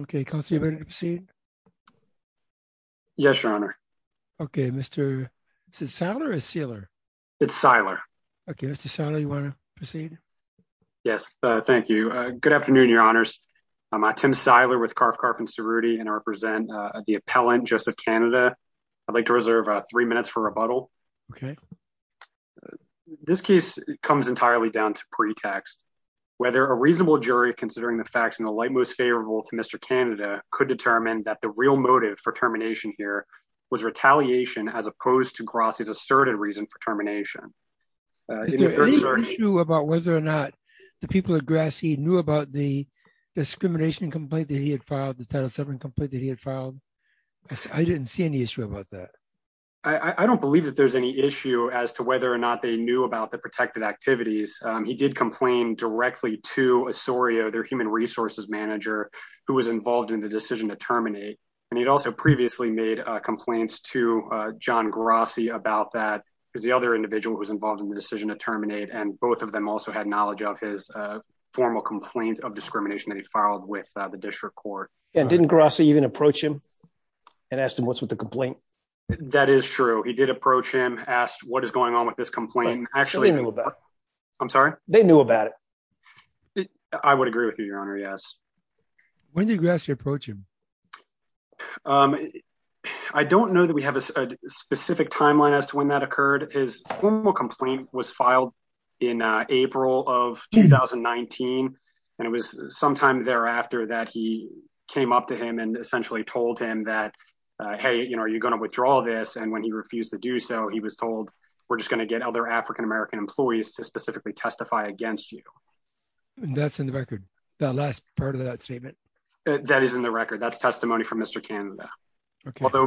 Okay, Kelsey, you ready to proceed? Yes, Your Honor. Okay, Mr. Seiler or Seiler? It's Seiler. Okay, Mr. Seiler, you want to proceed? Yes, thank you. Good afternoon, Your Honors. I'm Tim Seiler with Carf, Carf & Cerruti, and I represent the appellant, Joseph Canada. I'd like to reserve three minutes for rebuttal. Okay. This case comes entirely down to pretext. Whether a reasonable jury, considering the facts in the light most favorable to Mr. Canada, could determine that the real motive for termination here was retaliation as opposed to Grossi's asserted reason for termination. Is there any issue about whether or not the people at Grassi knew about the discrimination complaint that he had filed, the Title VII complaint that he had filed? I didn't see any issue about that. I don't believe that there's any issue as to whether or not they knew about the protected activities. He did complain directly to Osorio, their human resources manager, who was involved in the decision to terminate. And he'd also previously made complaints to John Grossi about that, because the other individual who was involved in the decision to terminate, and both of them also had knowledge of his formal complaints of discrimination that he filed with the district court. And didn't Grossi even approach him and ask him what's with the complaint? That is true. He did approach him, asked what is going on with this complaint. Actually, I'm sorry. They knew about it. I would agree with you, Your Honor. Yes. When did Grossi approach him? I don't know that we have a specific timeline as to when that occurred. His formal complaint was filed in April of 2019, and it was sometime thereafter that he came up to him and essentially told him that, hey, you know, are you going to withdraw this? When he refused to do so, he was told, we're just going to get other African-American employees to specifically testify against you. That's in the record, that last part of that statement? That is in the record. That's testimony from Mr. Canada. Although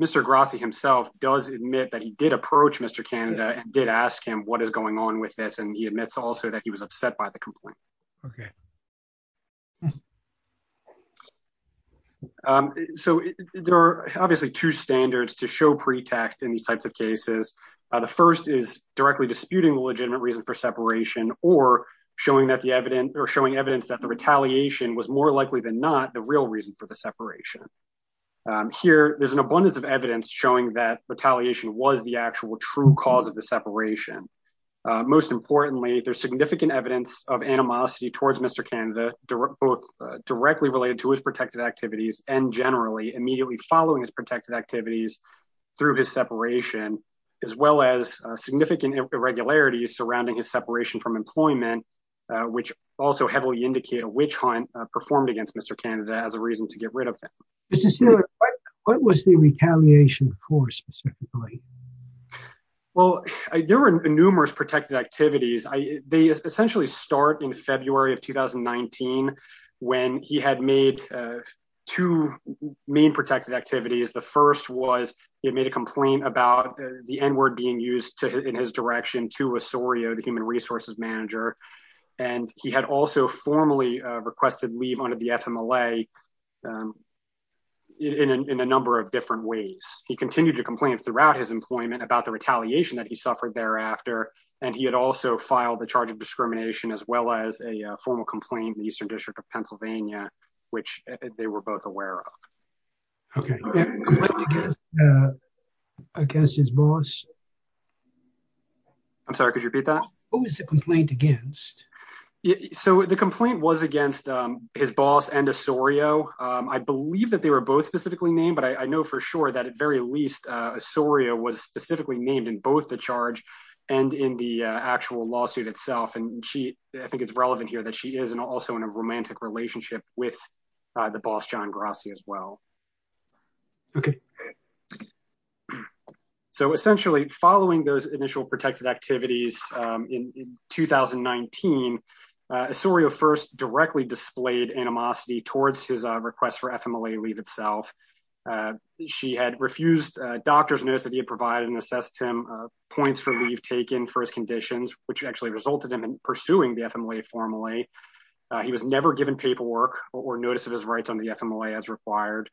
Mr. Grossi himself does admit that he did approach Mr. Canada and did ask him what is going on with this, and he admits also that he was upset by the complaint. Okay. So there are obviously two standards to show pretext in these types of cases. The first is directly disputing the legitimate reason for separation or showing evidence that the retaliation was more likely than not the real reason for the separation. Here, there's an abundance of evidence showing that retaliation was the actual true cause of the separation. Most importantly, there's significant evidence of animosity towards Mr. Canada, both directly related to his protected activities and generally immediately following his protected activities through his separation, as well as significant irregularities surrounding his separation from employment, which also heavily indicate a witch hunt performed against Mr. Canada as a reason to get rid of him. Mr. Sealy, what was the retaliation for specifically? Well, there were numerous protected activities. They essentially start in February of 2019 when he had made two main protected activities. The first was he had made a complaint about the N-word being used in his direction to Osorio, the human resources manager. And he had also formally requested leave under the FMLA in a number of different ways. He continued to complain throughout his employment about the retaliation that he suffered thereafter. And he had also filed a charge of discrimination as well as a formal complaint in the Eastern District of Pennsylvania, which they were both aware of. Against his boss? I'm sorry, could you repeat that? What was the complaint against? So the complaint was against his boss and Osorio. I believe that they were both specifically named, but I know for sure that at very least Osorio was specifically named in both the charge and in the actual lawsuit itself. And I think it's relevant here that she is also in a romantic relationship with the boss, John Grassi, as well. OK. So essentially, following those initial protected activities in 2019, Osorio first directly displayed animosity towards his request for FMLA leave itself. She had refused doctor's notes that he had provided and assessed him points for leave taken for his conditions, which actually resulted in him pursuing the FMLA formally. He was never given paperwork or notice of his rights on the FMLA as required.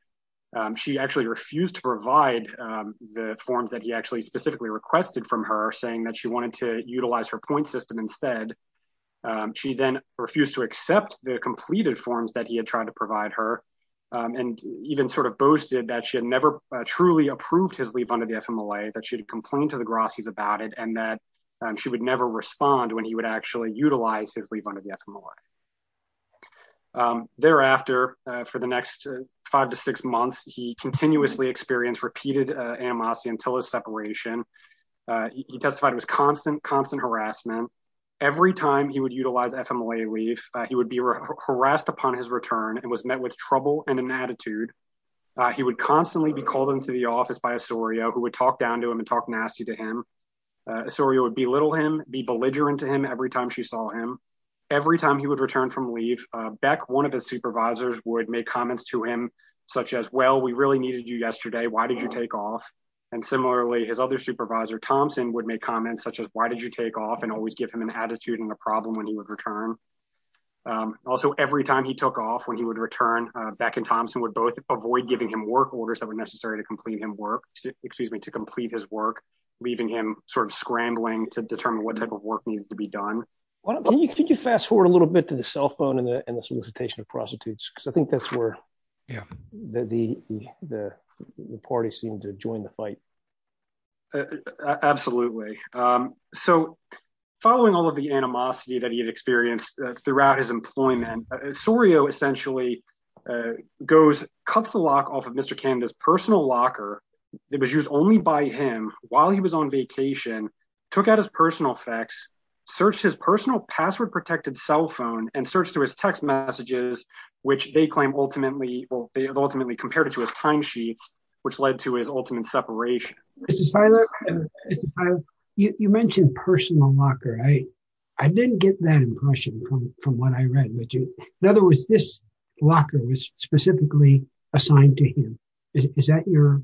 She actually refused to provide the forms that he actually specifically requested from her, saying that she wanted to utilize her point system instead. She then refused to accept the completed forms that he had tried to provide her and even sort of boasted that she had never truly approved his leave under the FMLA, that she had complained to the Grassi's about it and that she would never respond when he would actually utilize his leave under the FMLA. Thereafter, for the next five to six months, he continuously experienced repeated animosity until his separation. He testified it was constant, constant harassment. Every time he would utilize FMLA leave, he would be harassed upon his return and was met with trouble and inattitude. He would constantly be called into the office by Osorio, who would talk down to him and talk nasty to him. Osorio would belittle him, be belligerent to him every time she saw him. Every time he would return from leave, Beck, one of his supervisors, would make comments to him such as, well, we really needed you yesterday. Why did you take off? And similarly, his other supervisor, Thompson, would make comments such as, why did you take off, and always give him an attitude and a problem when he would return. Also, every time he took off, when he would return, Beck and Thompson would both avoid giving him work orders that were necessary to complete his work, leaving him sort of scrambling to determine what type of work needed to be done. Can you fast forward a little bit to the cell phone and the solicitation of prostitutes? Because I think that's where the parties seemed to join the fight. Absolutely. So following all of the animosity that he had experienced throughout his employment, Osorio essentially cuts the lock off of Mr. Canada's personal locker that was used only by him while he was on vacation, took out his personal fax, searched his personal password protected cell phone, and searched through his text messages, which they claim ultimately compared to his timesheets, which led to his ultimate separation. Mr. Seiler, you mentioned personal locker. I didn't get that impression from what I read. In other words, this locker was specifically assigned to him. Is that your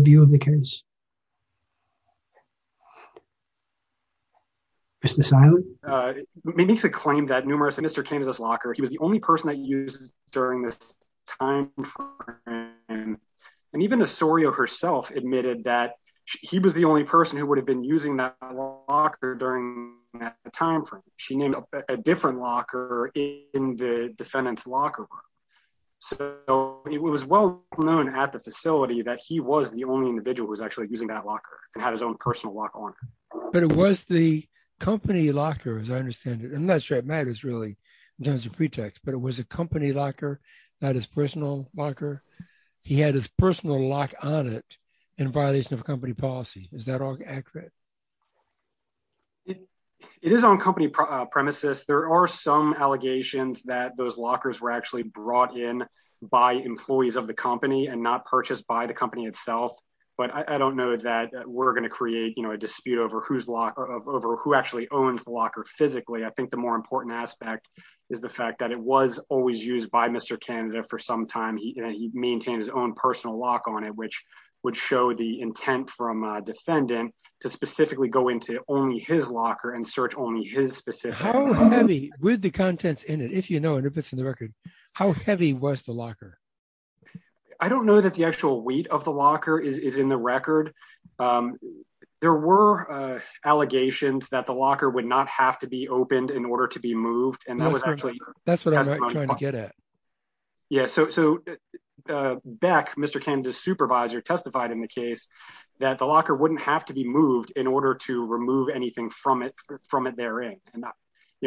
view of the case? Mr. Seiler? It makes a claim that numerous Mr. Canada's locker, he was the only person that used during this time frame, and even Osorio herself admitted that he was the only person who would have been using that locker during that time frame. She named a different locker in the defendant's locker room. So it was well known at the facility that he was the only individual who was actually using that locker and had his own personal locker on him. But it was the company locker, as I understand it. It was a company locker, not his personal locker. He had his personal lock on it in violation of company policy. Is that accurate? It is on company premises. There are some allegations that those lockers were actually brought in by employees of the company and not purchased by the company itself. But I don't know that we're going to create a dispute over who actually owns the locker physically. I think the more important aspect is the fact that it was always used by Mr. Canada for some time. He maintained his own personal lock on it, which would show the intent from a defendant to specifically go into only his locker and search only his specific locker. How heavy, with the contents in it, if you know, and if it's in the record, how heavy was the locker? I don't know that the actual weight of the locker is in the record. Um, there were allegations that the locker would not have to be opened in order to be moved. And that was actually that's what I'm trying to get at. Yeah. So back, Mr. Canada supervisor testified in the case that the locker wouldn't have to be moved in order to remove anything from it from it. They're in. And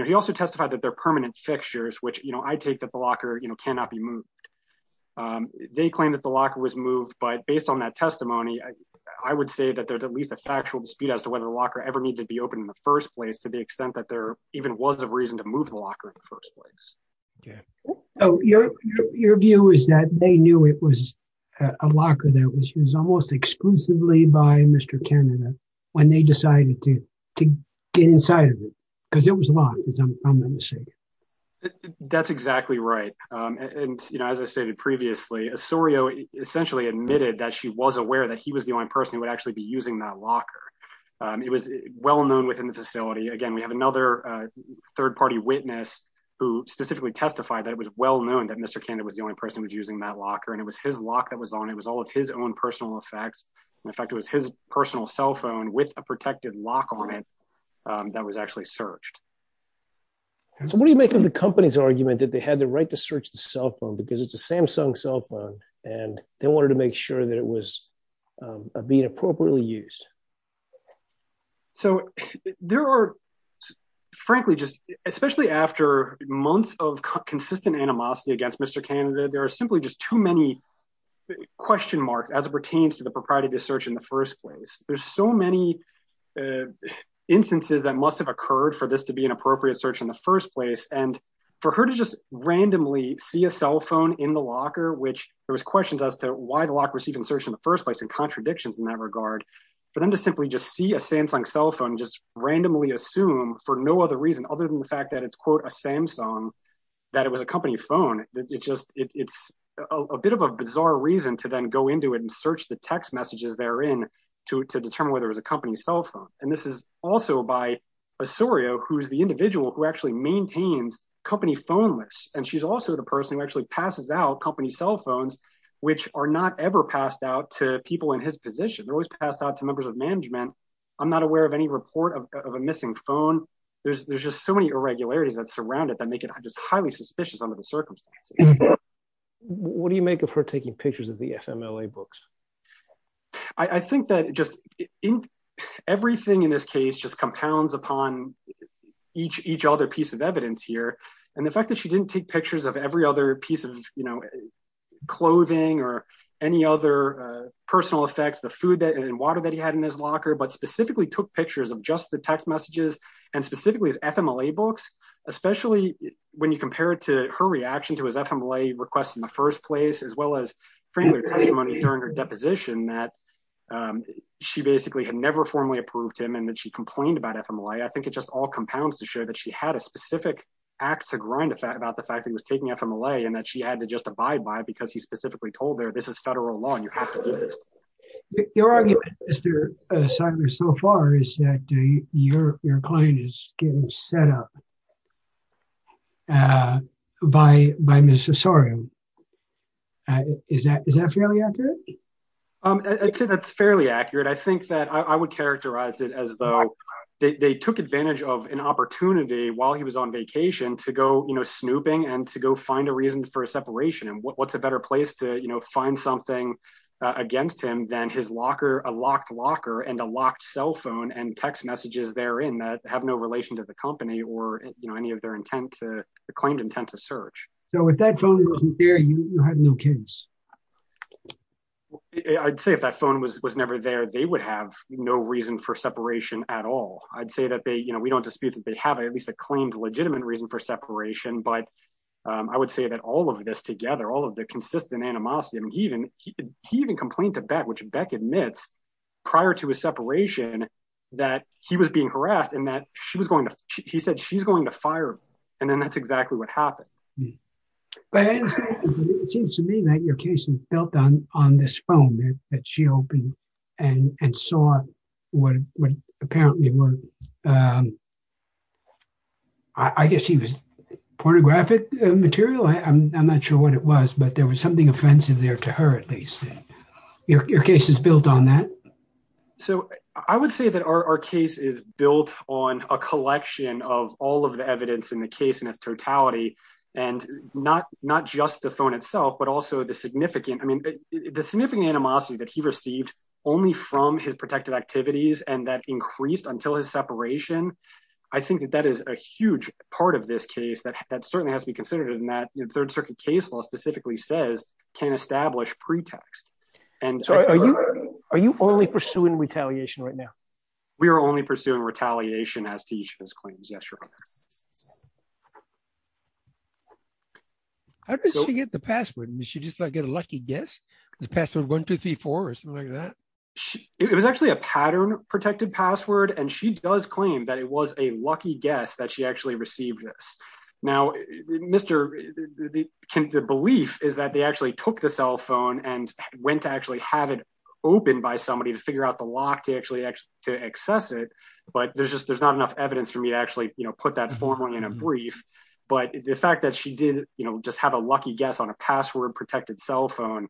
he also testified that their permanent fixtures, which, you know, I take that the locker cannot be moved. Um, they claim that the locker was moved by based on that testimony. I would say that there's at least a factual dispute as to whether the locker ever needs to be open in the first place, to the extent that there even was a reason to move the locker in the first place. Oh, your, your view is that they knew it was a locker that was used almost exclusively by Mr. Canada when they decided to get inside of it because it was a lot. That's exactly right. And, you know, as I stated previously, a Surya essentially admitted that she was aware that he was the only person who would actually be using that locker. It was well known within the facility. Again, we have another third party witness who specifically testified that it was well known that Mr. Canada was the only person who was using that locker and it was his lock that was on. It was all of his own personal effects. In fact, it was his personal cell phone with a protected lock on it. That was actually searched. So what do you make of the company's argument that they had the right to search the cell phone because it's a Samsung cell phone and they wanted to make sure that it was being appropriately used? So there are, frankly, just especially after months of consistent animosity against Mr. Canada, there are simply just too many question marks as it pertains to the propriety to search in the first place. There's so many instances that must have occurred for this to be an appropriate search in the first place. And for her to just randomly see a cell phone in the locker, which there was questions as to why the lock was even searched in the first place and contradictions in that regard, for them to simply just see a Samsung cell phone, just randomly assume for no other reason other than the fact that it's, quote, a Samsung, that it was a company phone. It just it's a bit of a bizarre reason to then go into it and search the text messages therein to determine whether it was a company cell phone. And this is also by Osorio, who's the individual who actually maintains company phone lists. And she's also the person who actually passes out company cell phones, which are not ever passed out to people in his position. They're always passed out to members of management. I'm not aware of any report of a missing phone. There's just so many irregularities that surround it that make it just highly suspicious under the circumstances. What do you make of her taking pictures of the FMLA books? I think that just everything in this case just compounds upon each each other piece of evidence here. And the fact that she didn't take pictures of every other piece of clothing or any other personal effects, the food and water that he had in his locker, but specifically took pictures of just the text messages and specifically his FMLA books, especially when you compare it to her reaction to his FMLA requests in the first place, as well as during her deposition that she basically had never formally approved him and that she complained about FMLA. I think it just all compounds to show that she had a specific act to grind about the fact that he was taking FMLA and that she had to just abide by it because he specifically told her this is federal law and you have to do this. Your argument, Mr. Seidler, so far is that your client is getting set up by Ms. Osorio. Is that fairly accurate? I'd say that's fairly accurate. I think that I would characterize it as though they took advantage of an opportunity while he was on vacation to go snooping and to go find a reason for a separation. And what's a better place to find something against him than his locker, a locked locker and a locked cell phone and text messages therein that have no relation to the company or any of their intent, claimed intent to search. So if that phone wasn't there, you had no case. Well, I'd say if that phone was never there, they would have no reason for separation at all. I'd say that we don't dispute that they have at least a claimed legitimate reason for separation. But I would say that all of this together, all of the consistent animosity, he even complained to Beck, which Beck admits prior to his separation that he was being harassed and that he said she's going to fire him. And then that's exactly what happened. But it seems to me that your case is built on this phone that she opened and saw what apparently were, I guess he was pornographic material. I'm not sure what it was, but there was something offensive there to her, at least. Your case is built on that. So I would say that our case is built on a collection of all of the evidence in the case in its totality and not just the phone itself, but also the significant, I mean, the significant animosity that he received only from his protective activities and that increased until his separation. I think that that is a huge part of this case that certainly has to be considered in that Third Circuit case law specifically says can establish pretext. Are you only pursuing retaliation right now? We are only pursuing retaliation as to each of his claims. Yes, Your Honor. How did she get the password? Did she just get a lucky guess? The password 1234 or something like that? It was actually a pattern protected password, and she does claim that it was a lucky guess that she actually received this. Now, the belief is that they actually took the cell phone and went to actually have it opened by somebody to figure out the lock to actually access it. But there's just there's not enough evidence for me to actually put that formally in a but the fact that she did just have a lucky guess on a password protected cell phone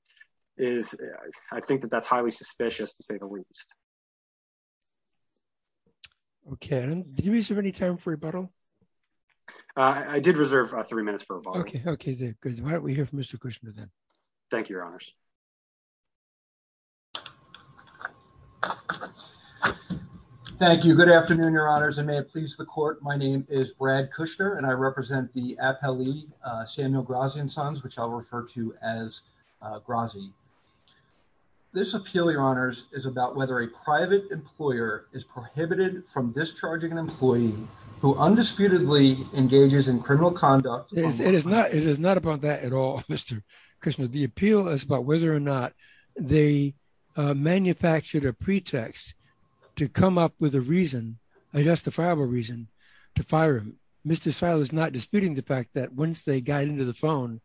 is I think that that's highly suspicious, to say the least. Okay, and do you have any time for rebuttal? I did reserve three minutes for a vote. Okay, okay, good. Why don't we hear from Mr. Kushner then? Thank you, Your Honors. Good afternoon, Your Honors, and may it please the court. My name is Brad Kushner, and I represent the Appellee Samuel Grazi and Sons, which I'll refer to as Grazi. This appeal, Your Honors, is about whether a private employer is prohibited from discharging an employee who undisputedly engages in criminal conduct. It is not about that at all, Mr. Kushner. The appeal is about whether or not they manufactured a pretext to come up with a reason, a justifiable reason, to fire him. Mr. Seiler is not disputing the fact that once they got into the phone,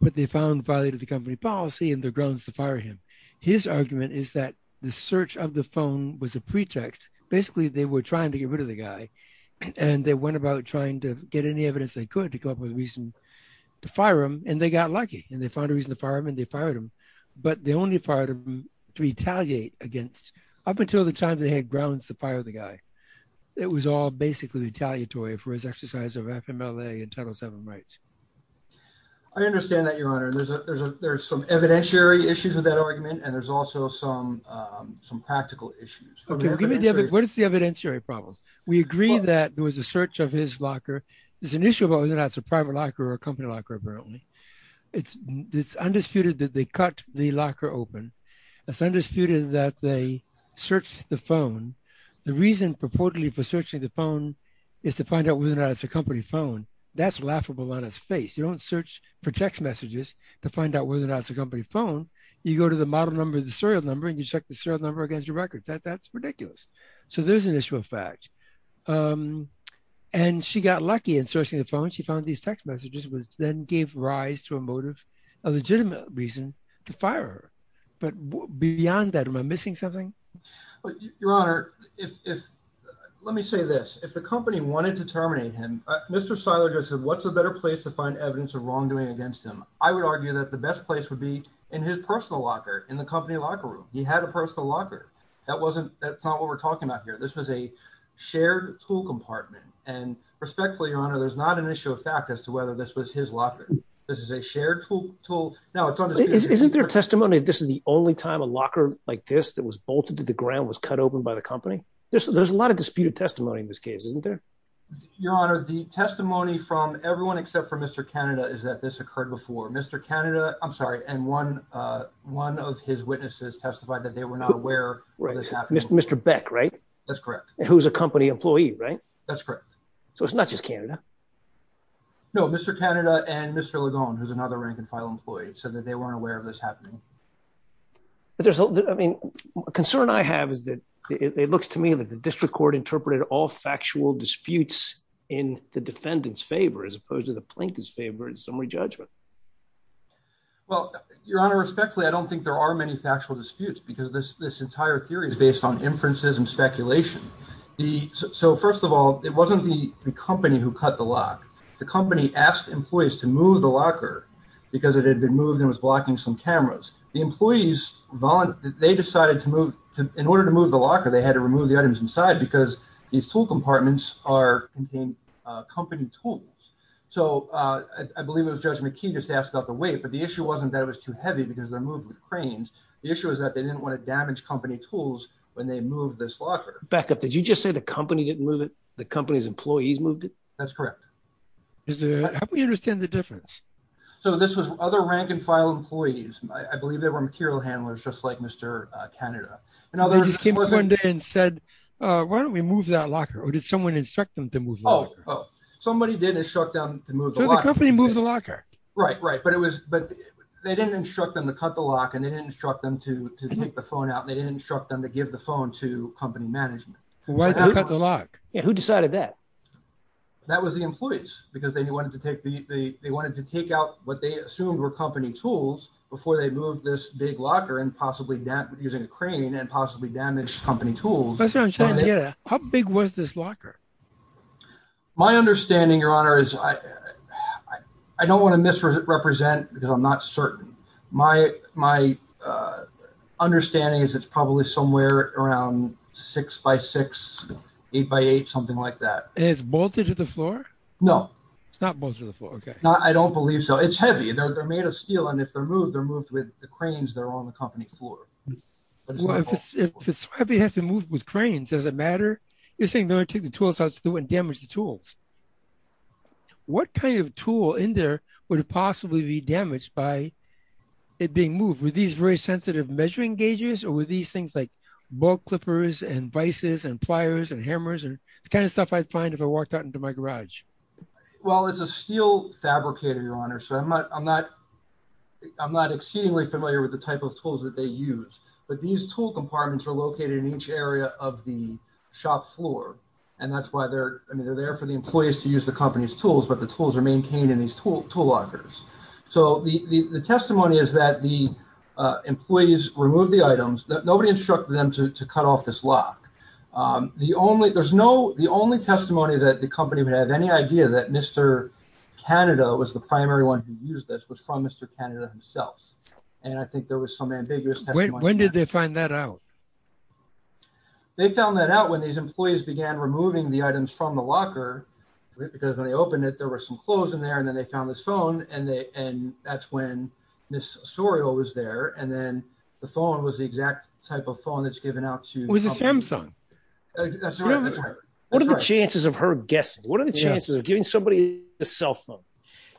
but they found violated the company policy and their grounds to fire him. His argument is that the search of the phone was a pretext. Basically, they were trying to get rid of the guy, and they went about trying to get any evidence they could to come up with a reason to fire him, and they got lucky, and they found a reason to fire him, and they fired him. But they only fired him to retaliate against, up until the time they had grounds to fire the guy. It was all basically retaliatory for his exercise of FMLA and Title VII rights. I understand that, Your Honor. There's some evidentiary issues with that argument, and there's also some practical issues. What is the evidentiary problem? We agree that there was a search of his locker. There's an issue about whether or not it's a private locker or a company locker, apparently. It's undisputed that they cut the locker open. It's undisputed that they searched the phone. The reason purportedly for searching the phone is to find out whether or not it's a company phone. That's laughable on its face. You don't search for text messages to find out whether or not it's a company phone. You go to the model number, the serial number, and you check the serial number against your records. That's ridiculous. So there's an issue of fact. And she got lucky in searching the phone. She found these text messages, which then gave rise to a motive, a legitimate reason to fire her. But beyond that, am I missing something? Your Honor, let me say this. If the company wanted to terminate him, Mr. Seiler just said, what's a better place to find evidence of wrongdoing against him? I would argue that the best place would be in his personal locker, in the company locker room. He had a personal locker. That's not what we're talking about here. This was a shared tool compartment. And respectfully, Your Honor, there's not an issue of fact as to whether this was his locker. This is a shared tool. Isn't there testimony that this is the only time a locker like this that was bolted to the ground was cut open by the company? There's a lot of disputed testimony in this case, isn't there? Your Honor, the testimony from everyone except for Mr. Canada is that this occurred before. Mr. Canada, I'm sorry, and one of his witnesses testified that they were not aware of this happening. Mr. Beck, right? That's correct. Who's a company employee, right? That's correct. So it's not just Canada. No, Mr. Canada and Mr. Lagone, who's another rank and file employee, said that they weren't aware of this happening. But there's, I mean, a concern I have is that it looks to me that the district court interpreted all factual disputes in the defendant's favor, as opposed to the plaintiff's favor in summary judgment. Well, Your Honor, respectfully, I don't think there are many factual disputes because this entire theory is based on inferences and speculation. The, so first of all, it wasn't the company who cut the lock. The company asked employees to move the locker because it had been moved and was blocking some cameras. The employees, they decided to move, in order to move the locker, they had to remove the items inside because these tool compartments contain company tools. So I believe it was Judge McKee just asked about the weight, but the issue wasn't that it was too heavy because they're moved with cranes. when they moved this locker. Did you just say the company didn't move it? The company's employees moved it? That's correct. How do we understand the difference? So this was other rank and file employees. I believe they were material handlers, just like Mr. Canada. And they just came up one day and said, why don't we move that locker? Or did someone instruct them to move the locker? Somebody did instruct them to move the locker. So the company moved the locker. Right, right. But it was, but they didn't instruct them to cut the lock and they didn't instruct them to take the phone out. They didn't instruct them to give the phone to company management. Who decided that? That was the employees because they wanted to take the, they wanted to take out what they assumed were company tools before they moved this big locker and possibly using a crane and possibly damaged company tools. How big was this locker? My understanding, Your Honor, is I don't want to misrepresent because I'm not certain. My understanding is it's probably somewhere around six by six, eight by eight, something like that. And it's bolted to the floor? No. It's not bolted to the floor, okay. I don't believe so. It's heavy. They're made of steel. And if they're moved, they're moved with the cranes that are on the company floor. If it's heavy, it has to be moved with cranes. Does it matter? You're saying they're going to take the tools out so they wouldn't damage the tools. What kind of tool in there would possibly be damaged by it being moved? Were these very sensitive measuring gauges or were these things like bolt clippers and vices and pliers and hammers and the kind of stuff I'd find if I walked out into my garage? Well, it's a steel fabricator, Your Honor. So I'm not exceedingly familiar with the type of tools that they use. But these tool compartments are located in each area of the shop floor. And that's why they're there for the employees to use the company's tools, but the tools are maintained in these tool lockers. So the testimony is that the employees removed the items. Nobody instructed them to cut off this lock. The only testimony that the company would have any idea that Mr. Canada was the primary one who used this was from Mr. Canada himself. And I think there was some ambiguous testimony. When did they find that out? They found that out when these employees began removing the items from the locker, because when they opened it, there were some clothes in there and then they found this phone and that's when Ms. Sorio was there. And then the phone was the exact type of phone that's given out to- It was a Samsung. What are the chances of her guessing? What are the chances of giving somebody a cell phone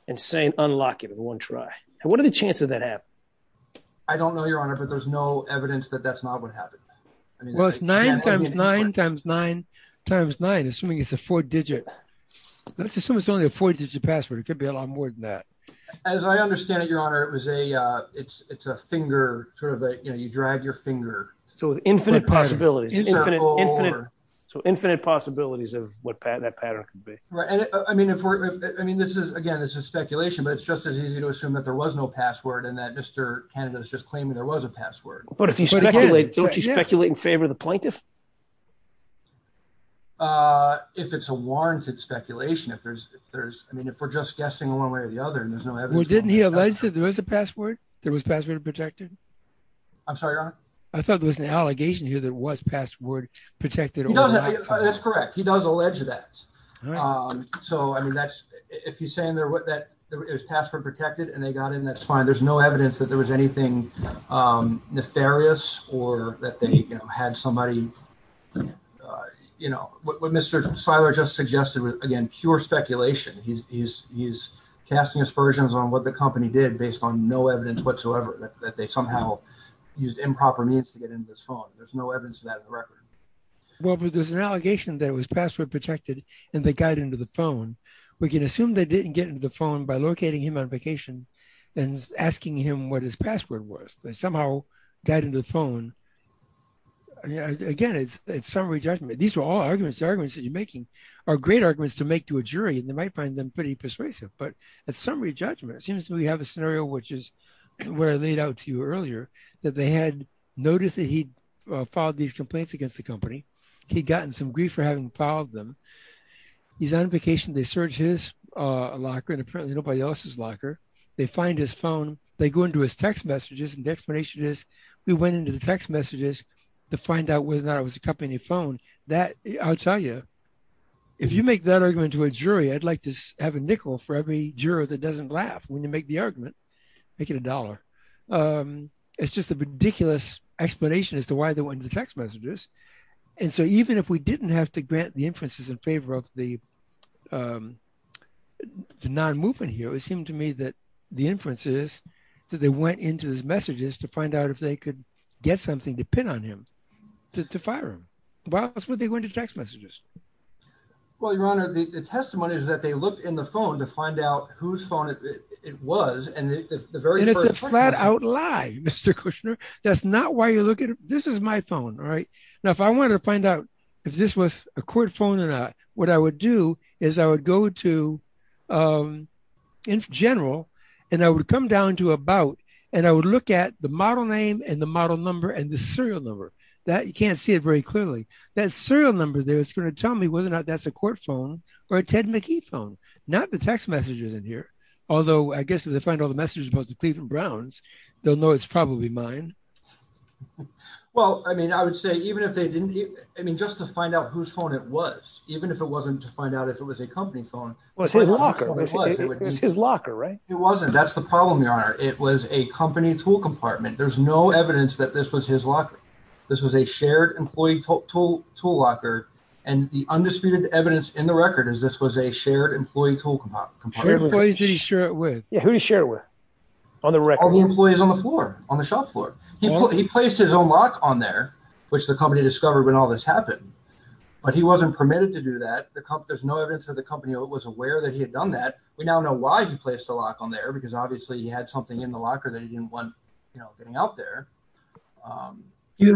and saying unlock it in one try? What are the chances of that happening? I don't know, Your Honor, but there's no evidence that that's not what happened. Well, it's nine times nine times nine times nine, assuming it's a four digit. Let's assume it's only a four digit password. It could be a lot more than that. As I understand it, Your Honor, it's a finger, you drag your finger. So infinite possibilities. So infinite possibilities of what that pattern could be. Right, I mean, again, this is speculation, but it's just as easy to assume that there was no password and that Mr. Canada is just claiming there was a password. But if you speculate, don't you speculate in favor of the plaintiff? If it's a warranted speculation, if there's, I mean, if we're just guessing one way or the other and there's no evidence. Well, didn't he allege that there was a password? There was password protected. I'm sorry, Your Honor. I thought there was an allegation here that was password protected. That's correct. He does allege that. So, I mean, that's if you're saying there was password protected and they got in, that's fine. There's no evidence that there was anything nefarious or that they had somebody, you know, what Mr. Siler just suggested was, again, pure speculation. He's casting aspersions on what the company did based on no evidence whatsoever, that they somehow used improper means to get into his phone. There's no evidence of that in the record. Well, but there's an allegation that it was password protected and they got into the phone. We can assume they didn't get into the phone by locating him on vacation and asking him what his password was. They somehow got into the phone. Again, it's summary judgment. These are all arguments, the arguments that you're making are great arguments to make to a jury and they might find them pretty persuasive. But at summary judgment, it seems to me we have a scenario which is where I laid out to you earlier that they had noticed that he'd filed these complaints against the company. He'd gotten some grief for having filed them. He's on vacation, they search his locker and apparently nobody else's locker. They find his phone. They go into his text messages and the explanation is we went into the text messages to find out whether or not it was a company phone. That, I'll tell you, if you make that argument to a jury, I'd like to have a nickel for every juror that doesn't laugh when you make the argument, make it a dollar. It's just a ridiculous explanation as to why they went into the text messages. And so even if we didn't have to grant the inferences in favor of the non-movement here, it seemed to me that the inferences that they went into his messages to find out if they could get something to pin on him to fire him. Why else would they go into text messages? Well, your honor, the testimony is that they looked in the phone to find out whose phone it was. And the very first- And it's a flat out lie, Mr. Kushner. That's not why you look at it. This is my phone, all right? Now, if I wanted to find out if this was a court phone or not, what I would do is I would go to Inf General and I would come down to About and I would look at the model name and the model number and the serial number. That, you can't see it very clearly. That serial number there, it's going to tell me whether or not that's a court phone or a Ted McKee phone, not the text messages in here. Although I guess if they find all the messages about the Cleveland Browns, they'll know it's probably mine. Well, I mean, I would say even if they didn't, I mean, just to find out whose phone it was, even if it wasn't to find out if it was a company phone- Well, it's his locker, right? It wasn't, that's the problem, your honor. It was a company tool compartment. There's no evidence that this was his locker. This was a shared employee tool locker and the undisputed evidence in the record is this was a shared employee tool compartment. Shared employees did he share it with? Yeah, who did he share it with? On the record? All the employees on the floor, on the shop floor. He placed his own lock on there, which the company discovered when all this happened, but he wasn't permitted to do that. There's no evidence that the company was aware that he had done that. We now know why he placed the lock on there because obviously he had something in the locker that he didn't want getting out there. Do you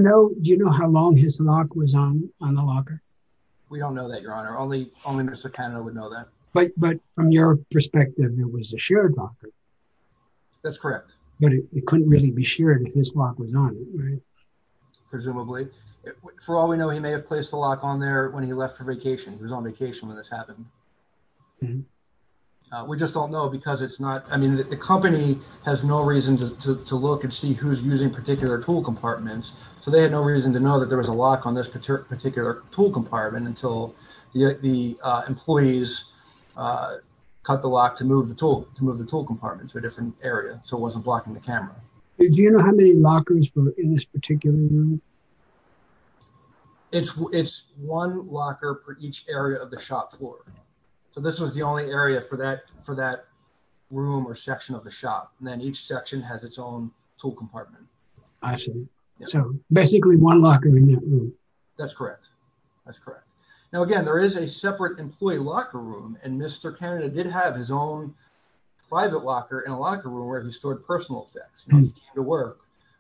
know how long his lock was on the locker? We don't know that, your honor. Only Mr. Canada would know that. But from your perspective, it was a shared locker. That's correct. But it couldn't really be shared if his lock was on it, right? Presumably. For all we know, he may have placed the lock on there when he left for vacation. He was on vacation when this happened. We just don't know because it's not... I mean, the company has no reason to look and see who's using particular tool compartments. They had no reason to know that there was a lock on this particular tool compartment until the employees cut the lock to move the tool compartment to a different area so it wasn't blocking the camera. Do you know how many lockers were in this particular room? It's one locker for each area of the shop floor. This was the only area for that room or section of the shop. Then each section has its own tool compartment. I see. Basically one locker in that room. That's correct. That's correct. Now, again, there is a separate employee locker room and Mr. Canada did have his own private locker in a locker room where he stored personal effects. When he came to work,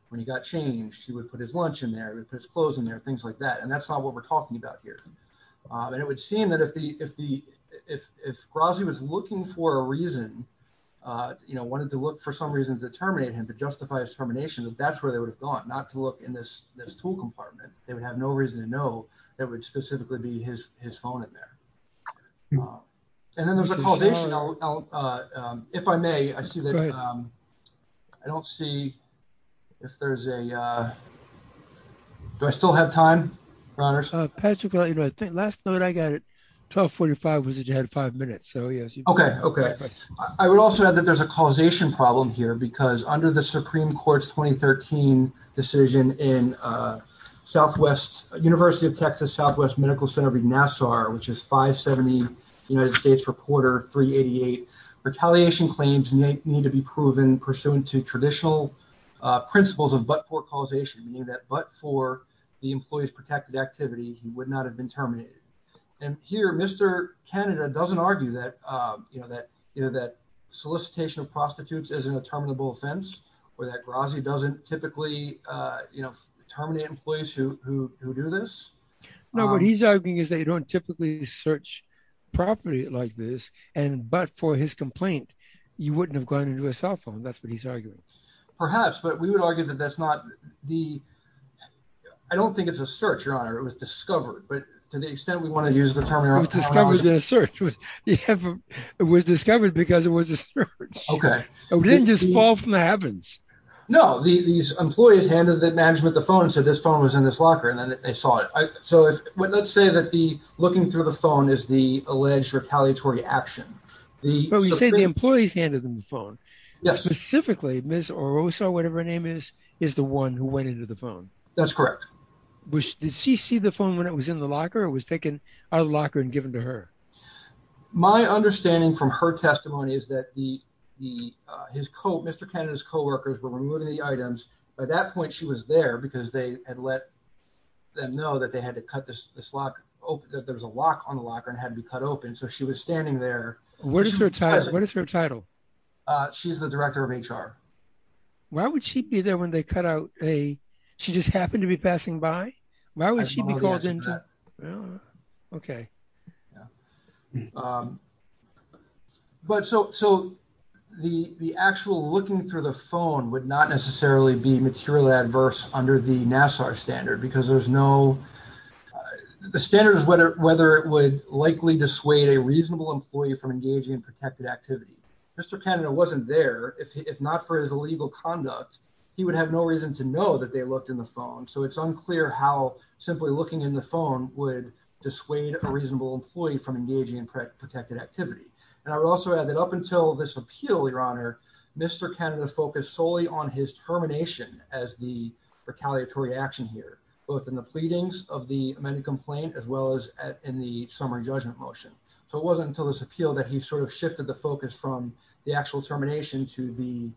when he got changed, he would put his lunch in there, he would put his clothes in there, things like that. And that's not what we're talking about here. And it would seem that if Grozny was looking for a reason, wanted to look for some reason to terminate him, to justify his termination, that that's where they would have gone, not to look in this tool compartment. They would have no reason to know that would specifically be his phone in there. And then there's a causation. If I may, I see that I don't see if there's a... Do I still have time for honors? Patrick, I think last note I got at 12.45 was that you had five minutes. So, yes. Okay. I would also add that there's a causation problem here because under the Supreme Court's 2013 decision in Southwest... University of Texas Southwest Medical Center v. Nassar, which is 570, United States Reporter 388, retaliation claims need to be proven pursuant to traditional principles of but-for causation, meaning that but for the employee's protected activity, he would not have been terminated. And here, Mr. Canada doesn't argue that solicitation of prostitutes isn't a terminable offense, or that Grazi doesn't typically terminate employees who do this. No, what he's arguing is they don't typically search properly like this. And but for his complaint, you wouldn't have gone into a cell phone. That's what he's arguing. Perhaps, but we would argue that that's not the... I don't think it's a search, Your Honor. It was discovered. But to the extent we want to use the term... It was discovered in a search. It was discovered because it was a search. Okay. We didn't just fall from the heavens. No, these employees handed the management the phone and said this phone was in this locker, and then they saw it. So let's say that the looking through the phone is the alleged retaliatory action. But we say the employees handed them the phone. Yes. Specifically, Ms. Orosa, whatever her name is, is the one who went into the phone. That's correct. Did she see the phone when it was in the locker or was taken out of the locker and given to her? My understanding from her testimony is that Mr. Kennedy's co-workers were removing the items. By that point, she was there because they had let them know that there was a lock on the locker and it had to be cut open. So she was standing there. What is her title? She's the director of HR. Why would she be there when they cut out a... She just happened to be passing by? Why would she be called in? Okay. But so the actual looking through the phone would not necessarily be materially adverse under the NASSAR standard because there's no... The standard is whether it would likely dissuade a reasonable employee from engaging in protected activity. Mr. Kennedy wasn't there. If not for his illegal conduct, he would have no reason to know that they looked in the phone. So it's unclear how simply looking in the phone would dissuade a reasonable employee from engaging in protected activity. And I would also add that up until this appeal, Your Honor, Mr. Kennedy focused solely on his termination as the retaliatory action here, both in the pleadings of the amended complaint as well as in the summary judgment motion. So it wasn't until this appeal that he sort of shifted the focus from the actual termination to the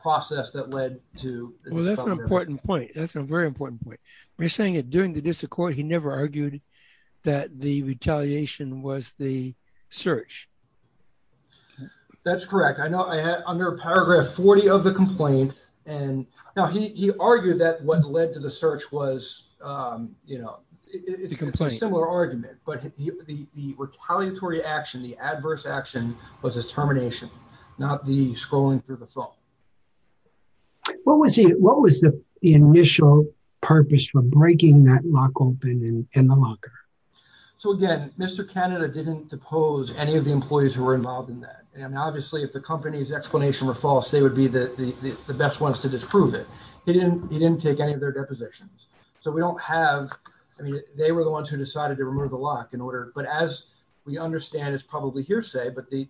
process that led to... Well, that's an important point. That's a very important point. We're saying that during the district court, he never argued that the retaliation was the search. That's correct. I know I had under paragraph 40 of the complaint and now he argued that what led to the search was it's a similar argument, but the retaliatory action, the adverse action was his termination, not the scrolling through the phone. What was the initial purpose for breaking that lock open in the locker? So again, Mr. Kennedy didn't depose any of the employees who were involved in that. And obviously if the company's explanation were false, they would be the best ones to disprove it. He didn't take any of their depositions. So we don't have... I mean, they were the ones who decided to remove the lock in order... But as we understand, it's probably hearsay, but the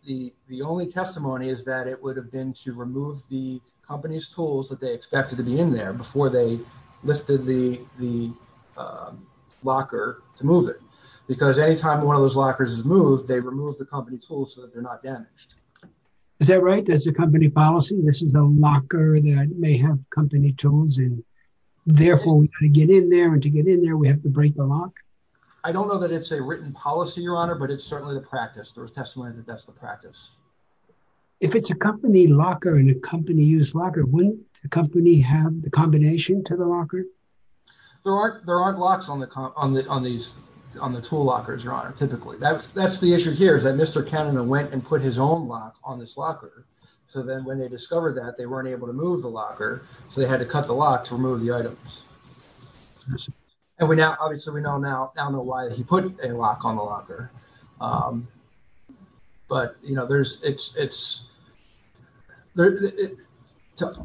only testimony is that it would have been to remove the company's tools that they expected to be in there before they lifted the locker to move it. Because anytime one of those lockers is moved, they remove the company tools so that they're not damaged. Is that right? That's the company policy? This is a locker that may have company tools and therefore we can get in there and to get in there, we have to break the lock? I don't know that it's a written policy, Your Honor, but it's certainly the practice. There was testimony that that's the practice. If it's a company locker and a company use locker, wouldn't the company have the combination to the locker? There aren't locks on the tool lockers, Your Honor, typically. That's the issue here, is that Mr. Cannon went and put his own lock on this locker. So then when they discovered that, they weren't able to move the locker. So they had to cut the lock to remove the items. And obviously, we now know why he put a lock on the locker. But, you know,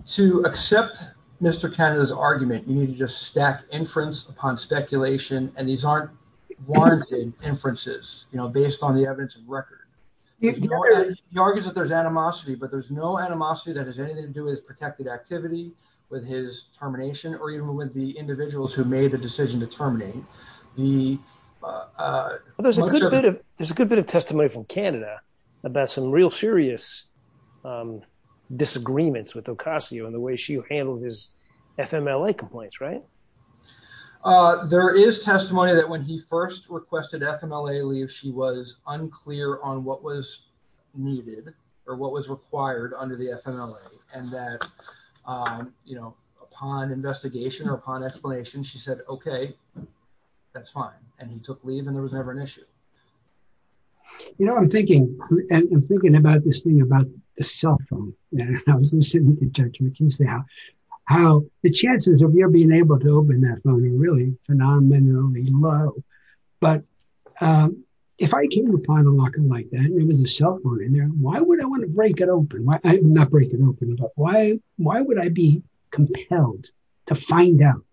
to accept Mr. Cannon's argument, you need to just stack inference upon speculation and these aren't warranted inferences, you know, based on the evidence of record. He argues that there's animosity, but there's no animosity that has anything to do with his protected activity, with his termination, or even with the individuals There's a good bit of evidence that there's animosity, there's a good bit of testimony from Canada about some real serious disagreements with Ocasio and the way she handled his FMLA complaints, right? There is testimony that when he first requested FMLA leave, she was unclear on what was needed or what was required under the FMLA. And that, you know, upon investigation or upon explanation, she said, okay, that's fine. And he took leave and there was never an issue. You know, I'm thinking, and I'm thinking about this thing about the cell phone. And I was listening to Judge McKinsey how the chances of her being able to open that phone are really phenomenally low. But if I came upon a locker like that and there was a cell phone in there, why would I want to break it open? Why, not break it open, but why would I be compelled to find out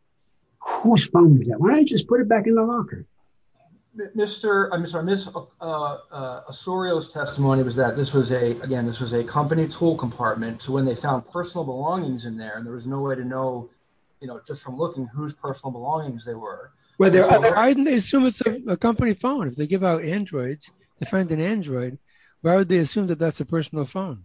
whose phone was that? Why not just put it back in the locker? Mr. Osorio's testimony was that this was a, again, this was a company tool compartment to when they found personal belongings in there and there was no way to know, you know, just from looking whose personal belongings they were. Well, I didn't assume it's a company phone. If they give out Androids, they find an Android, why would they assume that that's a personal phone?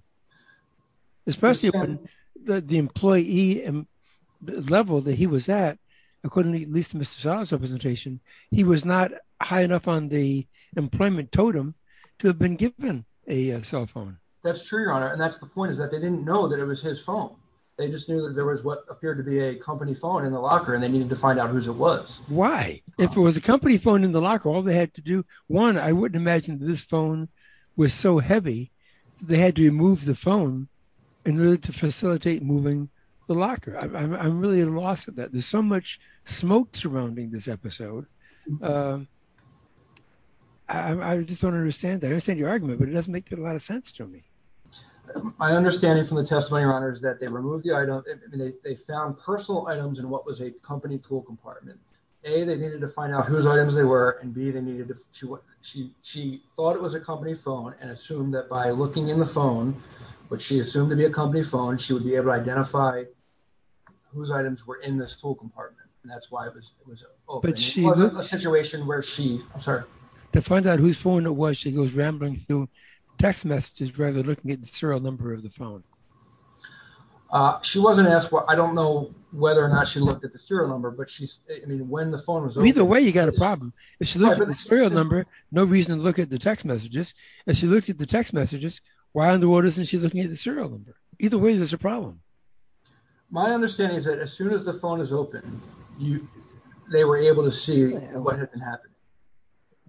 according to at least Mr. Salazar's presentation, he was not high enough on the employment totem to have been given a cell phone. That's true, Your Honor. And that's the point, is that they didn't know that it was his phone. They just knew that there was what appeared to be a company phone in the locker and they needed to find out whose it was. Why? If it was a company phone in the locker, all they had to do, one, I wouldn't imagine this phone was so heavy, they had to remove the phone in order to facilitate moving the locker. I'm really at a loss of that. There's so much smoke surrounding this episode. I just don't understand. I understand your argument, but it doesn't make a lot of sense to me. My understanding from the testimony, Your Honor, is that they removed the item, and they found personal items in what was a company tool compartment. A, they needed to find out whose items they were, and B, she thought it was a company phone and assumed that by looking in the phone, which she assumed to be a company phone, she would be able to identify whose items were in this tool compartment. And that's why it was open. It wasn't a situation where she, I'm sorry. To find out whose phone it was, she goes rambling through text messages rather than looking at the serial number of the phone. She wasn't asked, I don't know whether or not she looked at the serial number, but when the phone was open- Either way, you got a problem. If she looked at the serial number, no reason to look at the text messages. If she looked at the text messages, why in the world isn't she looking at the serial number? Either way, there's a problem. My understanding is that as soon as the phone is open, you- They were able to see what had been happening.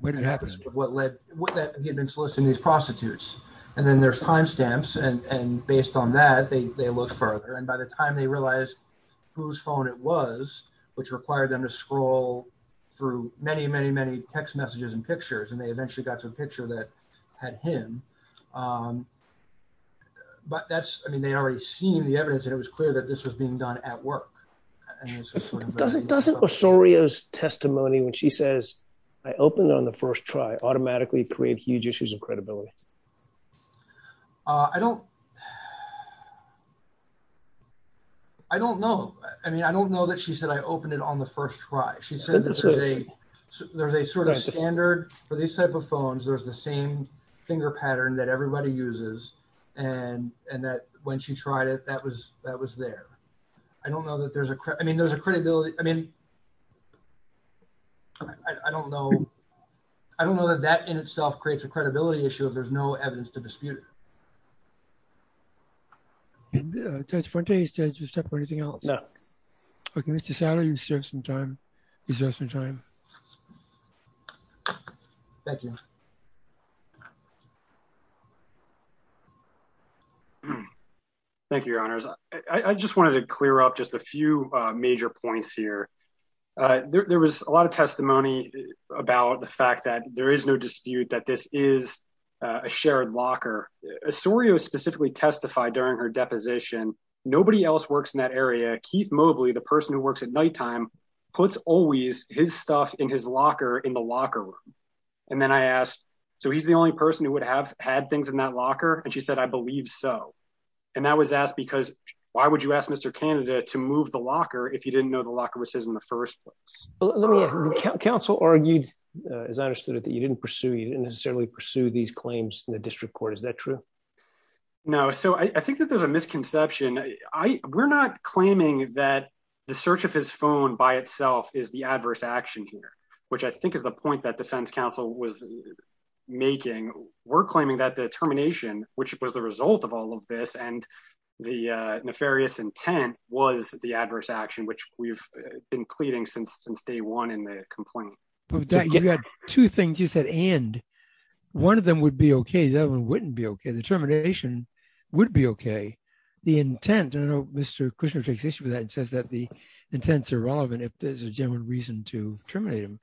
What had been happening? What led- What that he had been soliciting these prostitutes. And then there's timestamps. And based on that, they looked further. And by the time they realized whose phone it was, which required them to scroll through many, many, many text messages and pictures, and they eventually got to a picture that had him. But that's, I mean, they already seen the evidence and it was clear that this was being done at work. And it's just sort of- Doesn't Osorio's testimony when she says, I opened on the first try, automatically create huge issues of credibility? I don't, I don't know. I mean, I don't know that she said, I opened it on the first try. She said that there's a sort of standard for these type of phones. There's the same finger pattern that everybody uses. And that when she tried it, that was there. I don't know that there's a, I mean, there's a credibility. I mean, I don't know. I don't know that that in itself creates a credibility issue if there's no evidence to dispute it. Judge Frontier, did you have anything else? No. Okay, Mr. Satter, you still have some time. Thank you. Thank you, your honors. I just wanted to clear up just a few major points here. There was a lot of testimony about the fact that there is no dispute that this is a shared locker. Osorio specifically testified during her deposition, nobody else works in that area. Keith Mobley, the person who works at nighttime, puts always his stuff in his locker in the locker room. And then I asked, so he's the only person who would have had things in that locker? And she said, I believe so. And that was asked because, why would you ask Mr. Candida to move the locker if you didn't know the locker was his in the first place? Counsel argued, as I understood it, that you didn't pursue, you didn't necessarily pursue these claims in the district court, is that true? No, so I think that there's a misconception. We're not claiming that the search of his phone by itself is the adverse action here, which I think is the point that defense counsel was making. We're claiming that the termination, which was the result of all of this, and the nefarious intent was the adverse action, which we've been pleading since day one in the complaint. You got two things you said, and one of them would be okay, the other one wouldn't be okay. The termination would be okay. The intent, I know Mr. Kushner takes issue with that and says that the intents are relevant if there's a genuine reason to terminate him.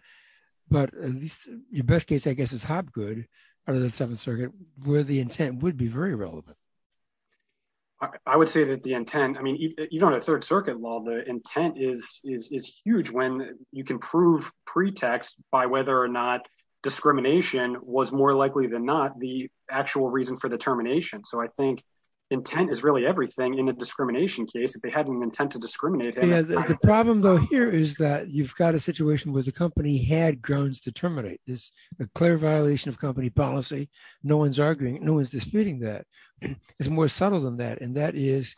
But at least your best case, I guess, is Hopgood out of the Seventh Circuit, where the intent would be very relevant. I would say that the intent, I mean, even on a Third Circuit law, the intent is huge when you can prove pretext by whether or not discrimination was more likely than not the actual reason for the termination. So I think intent is really everything in a discrimination case, if they had an intent to discriminate. The problem though here is that you've got a situation where the company had grounds to terminate. This is a clear violation of company policy, no one's arguing, no one's disputing that. It's more subtle than that, and that is,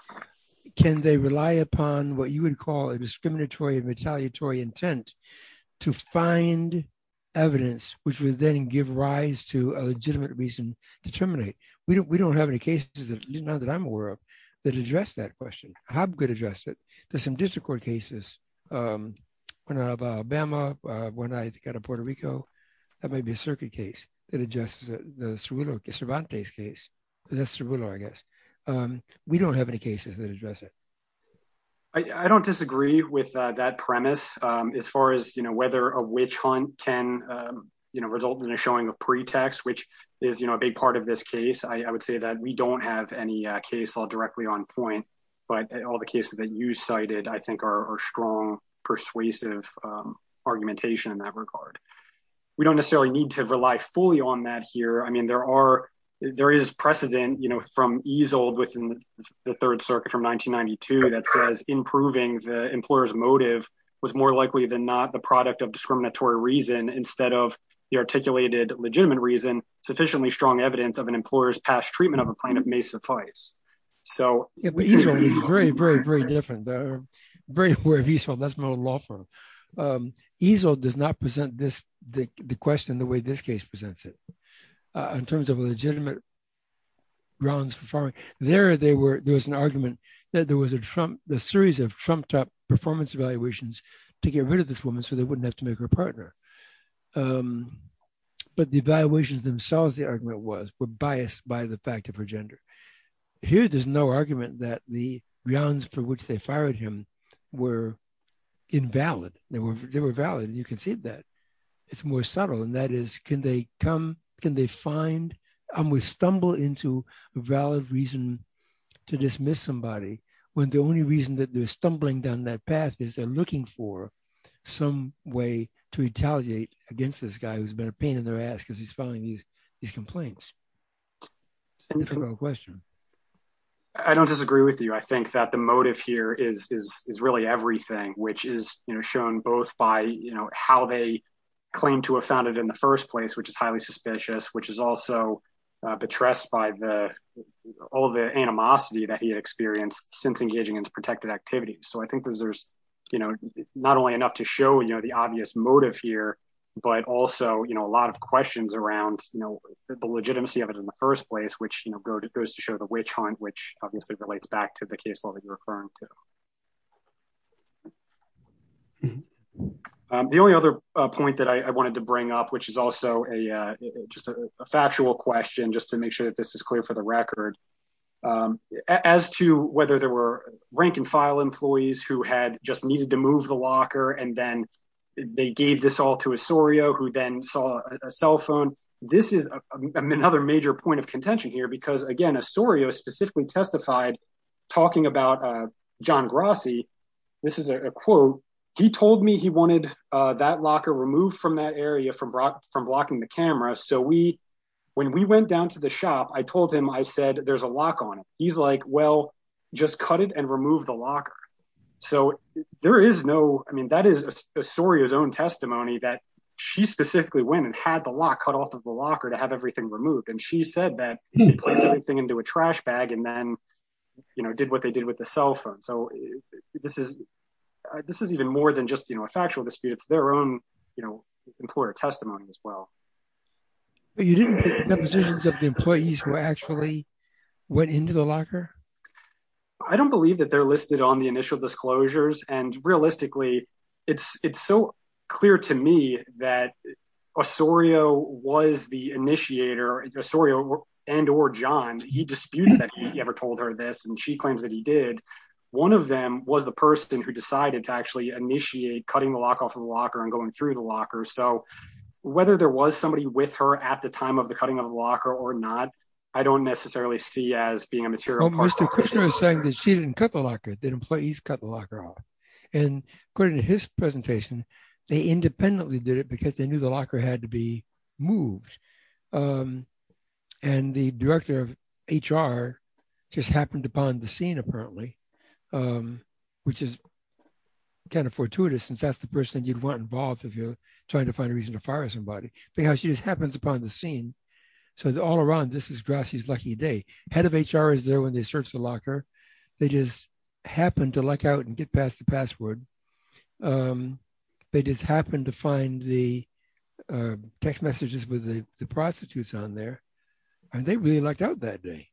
can they rely upon what you would call a discriminatory and retaliatory intent to find evidence, which would then give rise to a legitimate reason to terminate? We don't have any cases, at least not that I'm aware of, that address that question. Hopgood addressed it. There's some district court cases, one out of Alabama, one out of Puerto Rico, that might be a circuit case, that addresses the Cerullo, Cervantes case. That's Cerullo, I guess. We don't have any cases that address it. I don't disagree with that premise as far as whether a witch hunt can result in a showing of pretext, which is a big part of this case. I would say that we don't have any case all directly on point, but all the cases that you cited, I think are strong, persuasive argumentation in that regard. We don't necessarily need to rely fully on that here. I mean, there is precedent from EZLD within the Third Circuit from 1992 that says improving the employer's motive was more likely than not the product of discriminatory reason instead of the articulated legitimate reason, sufficiently strong evidence of an employer's past treatment of a plaintiff may suffice. So- Yeah, but EZLD is very, very, very different. Very aware of EZLD, that's not a law firm. EZLD does not present the question the way this case presents it in terms of legitimate grounds for firing. There, there was an argument that there was a series of trumped up performance evaluations to get rid of this woman so they wouldn't have to make her a partner. But the evaluations themselves, the argument was, were biased by the fact of her gender. Here, there's no argument that the grounds for which they fired him were invalid. They were valid and you can see that. It's more subtle. And that is, can they come, can they find, almost stumble into a valid reason to dismiss somebody when the only reason that they're stumbling down that path is they're looking for some way to retaliate against this guy who's been a pain in their ass because he's filing these complaints? I think that's a wrong question. I don't disagree with you. I think that the motive here is really everything, which is shown both by how they claim to have found it in the first place, which is highly suspicious, which is also betrayed by all the animosity that he had experienced since engaging in protected activities. So I think that there's not only enough to show the obvious motive here, but also a lot of questions around the legitimacy of it in the first place, which goes to show the witch hunt, which obviously relates back to the case law that you're referring to. The only other point that I wanted to bring up, which is also just a factual question, just to make sure that this is clear for the record, as to whether there were rank and file employees who had just needed to move the locker, and then they gave this all to Osorio, who then saw a cell phone. This is another major point of contention here, because again, Osorio specifically testified talking about John Grassi. This is a quote. He told me he wanted that locker removed from that area from blocking the camera. So when we went down to the shop, I told him, I said, there's a lock on it. He's like, well, just cut it and remove the locker. So there is no, I mean, that is Osorio's own testimony that she specifically went and had the lock cut off of the locker to have everything removed. And she said that he placed everything into a trash bag and then, you know, did what they did with the cell phone. So this is even more than just, you know, a factual dispute. It's their own, you know, employer testimony as well. But you didn't get the positions of the employees who actually went into the locker? I don't believe that they're listed on the initial disclosures. And realistically, it's so clear to me that Osorio was the initiator, Osorio and or John, he disputes that he ever told her this. And she claims that he did. One of them was the person who decided to actually initiate cutting the lock off of the locker and going through the locker. So whether there was somebody with her at the time of the cutting of the locker or not, I don't necessarily see as being a material part. Mr. Kushner is saying that she didn't cut the locker, that employees cut the locker off. And according to his presentation, they independently did it because they knew the locker had to be moved. And the director of HR just happened upon the scene, apparently, which is kind of fortuitous since that's the person you'd want involved if you're trying to find a reason to fire somebody because she just happens upon the scene. So all around, this is Grassy's lucky day. Head of HR is there when they search the locker. They just happened to luck out and get past the password. They just happened to find the text messages with the prostitutes on there. And they really lucked out that day.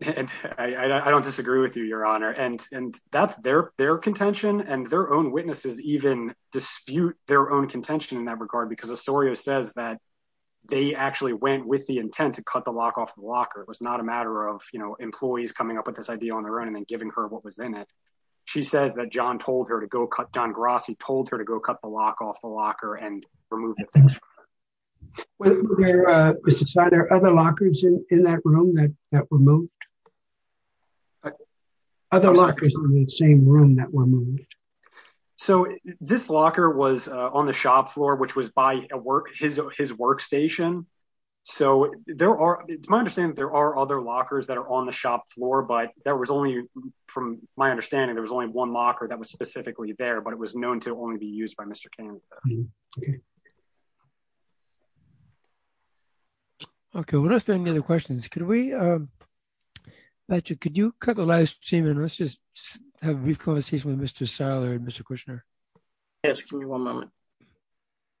And I don't disagree with you, Your Honor. And that's their contention. And their own witnesses even dispute their own contention in that regard because Osorio says that they actually went with the intent to cut the lock off the locker. It was not a matter of employees coming up with this idea on their own and then giving her what was in it. She says that John Grassy told her to go cut the lock off the locker and remove the things. Was there other lockers in that room that were moved? Other lockers in the same room that were moved? So this locker was on the shop floor, which was by his workstation. So it's my understanding that there are other lockers that are on the shop floor, but from my understanding, there was only one locker that was specifically there, but it was known to only be used by Mr. Kane. Okay, we don't have any other questions. Could you cut the live stream and let's just have a brief conversation with Mr. Seiler and Mr. Kushner. Yes, give me one moment.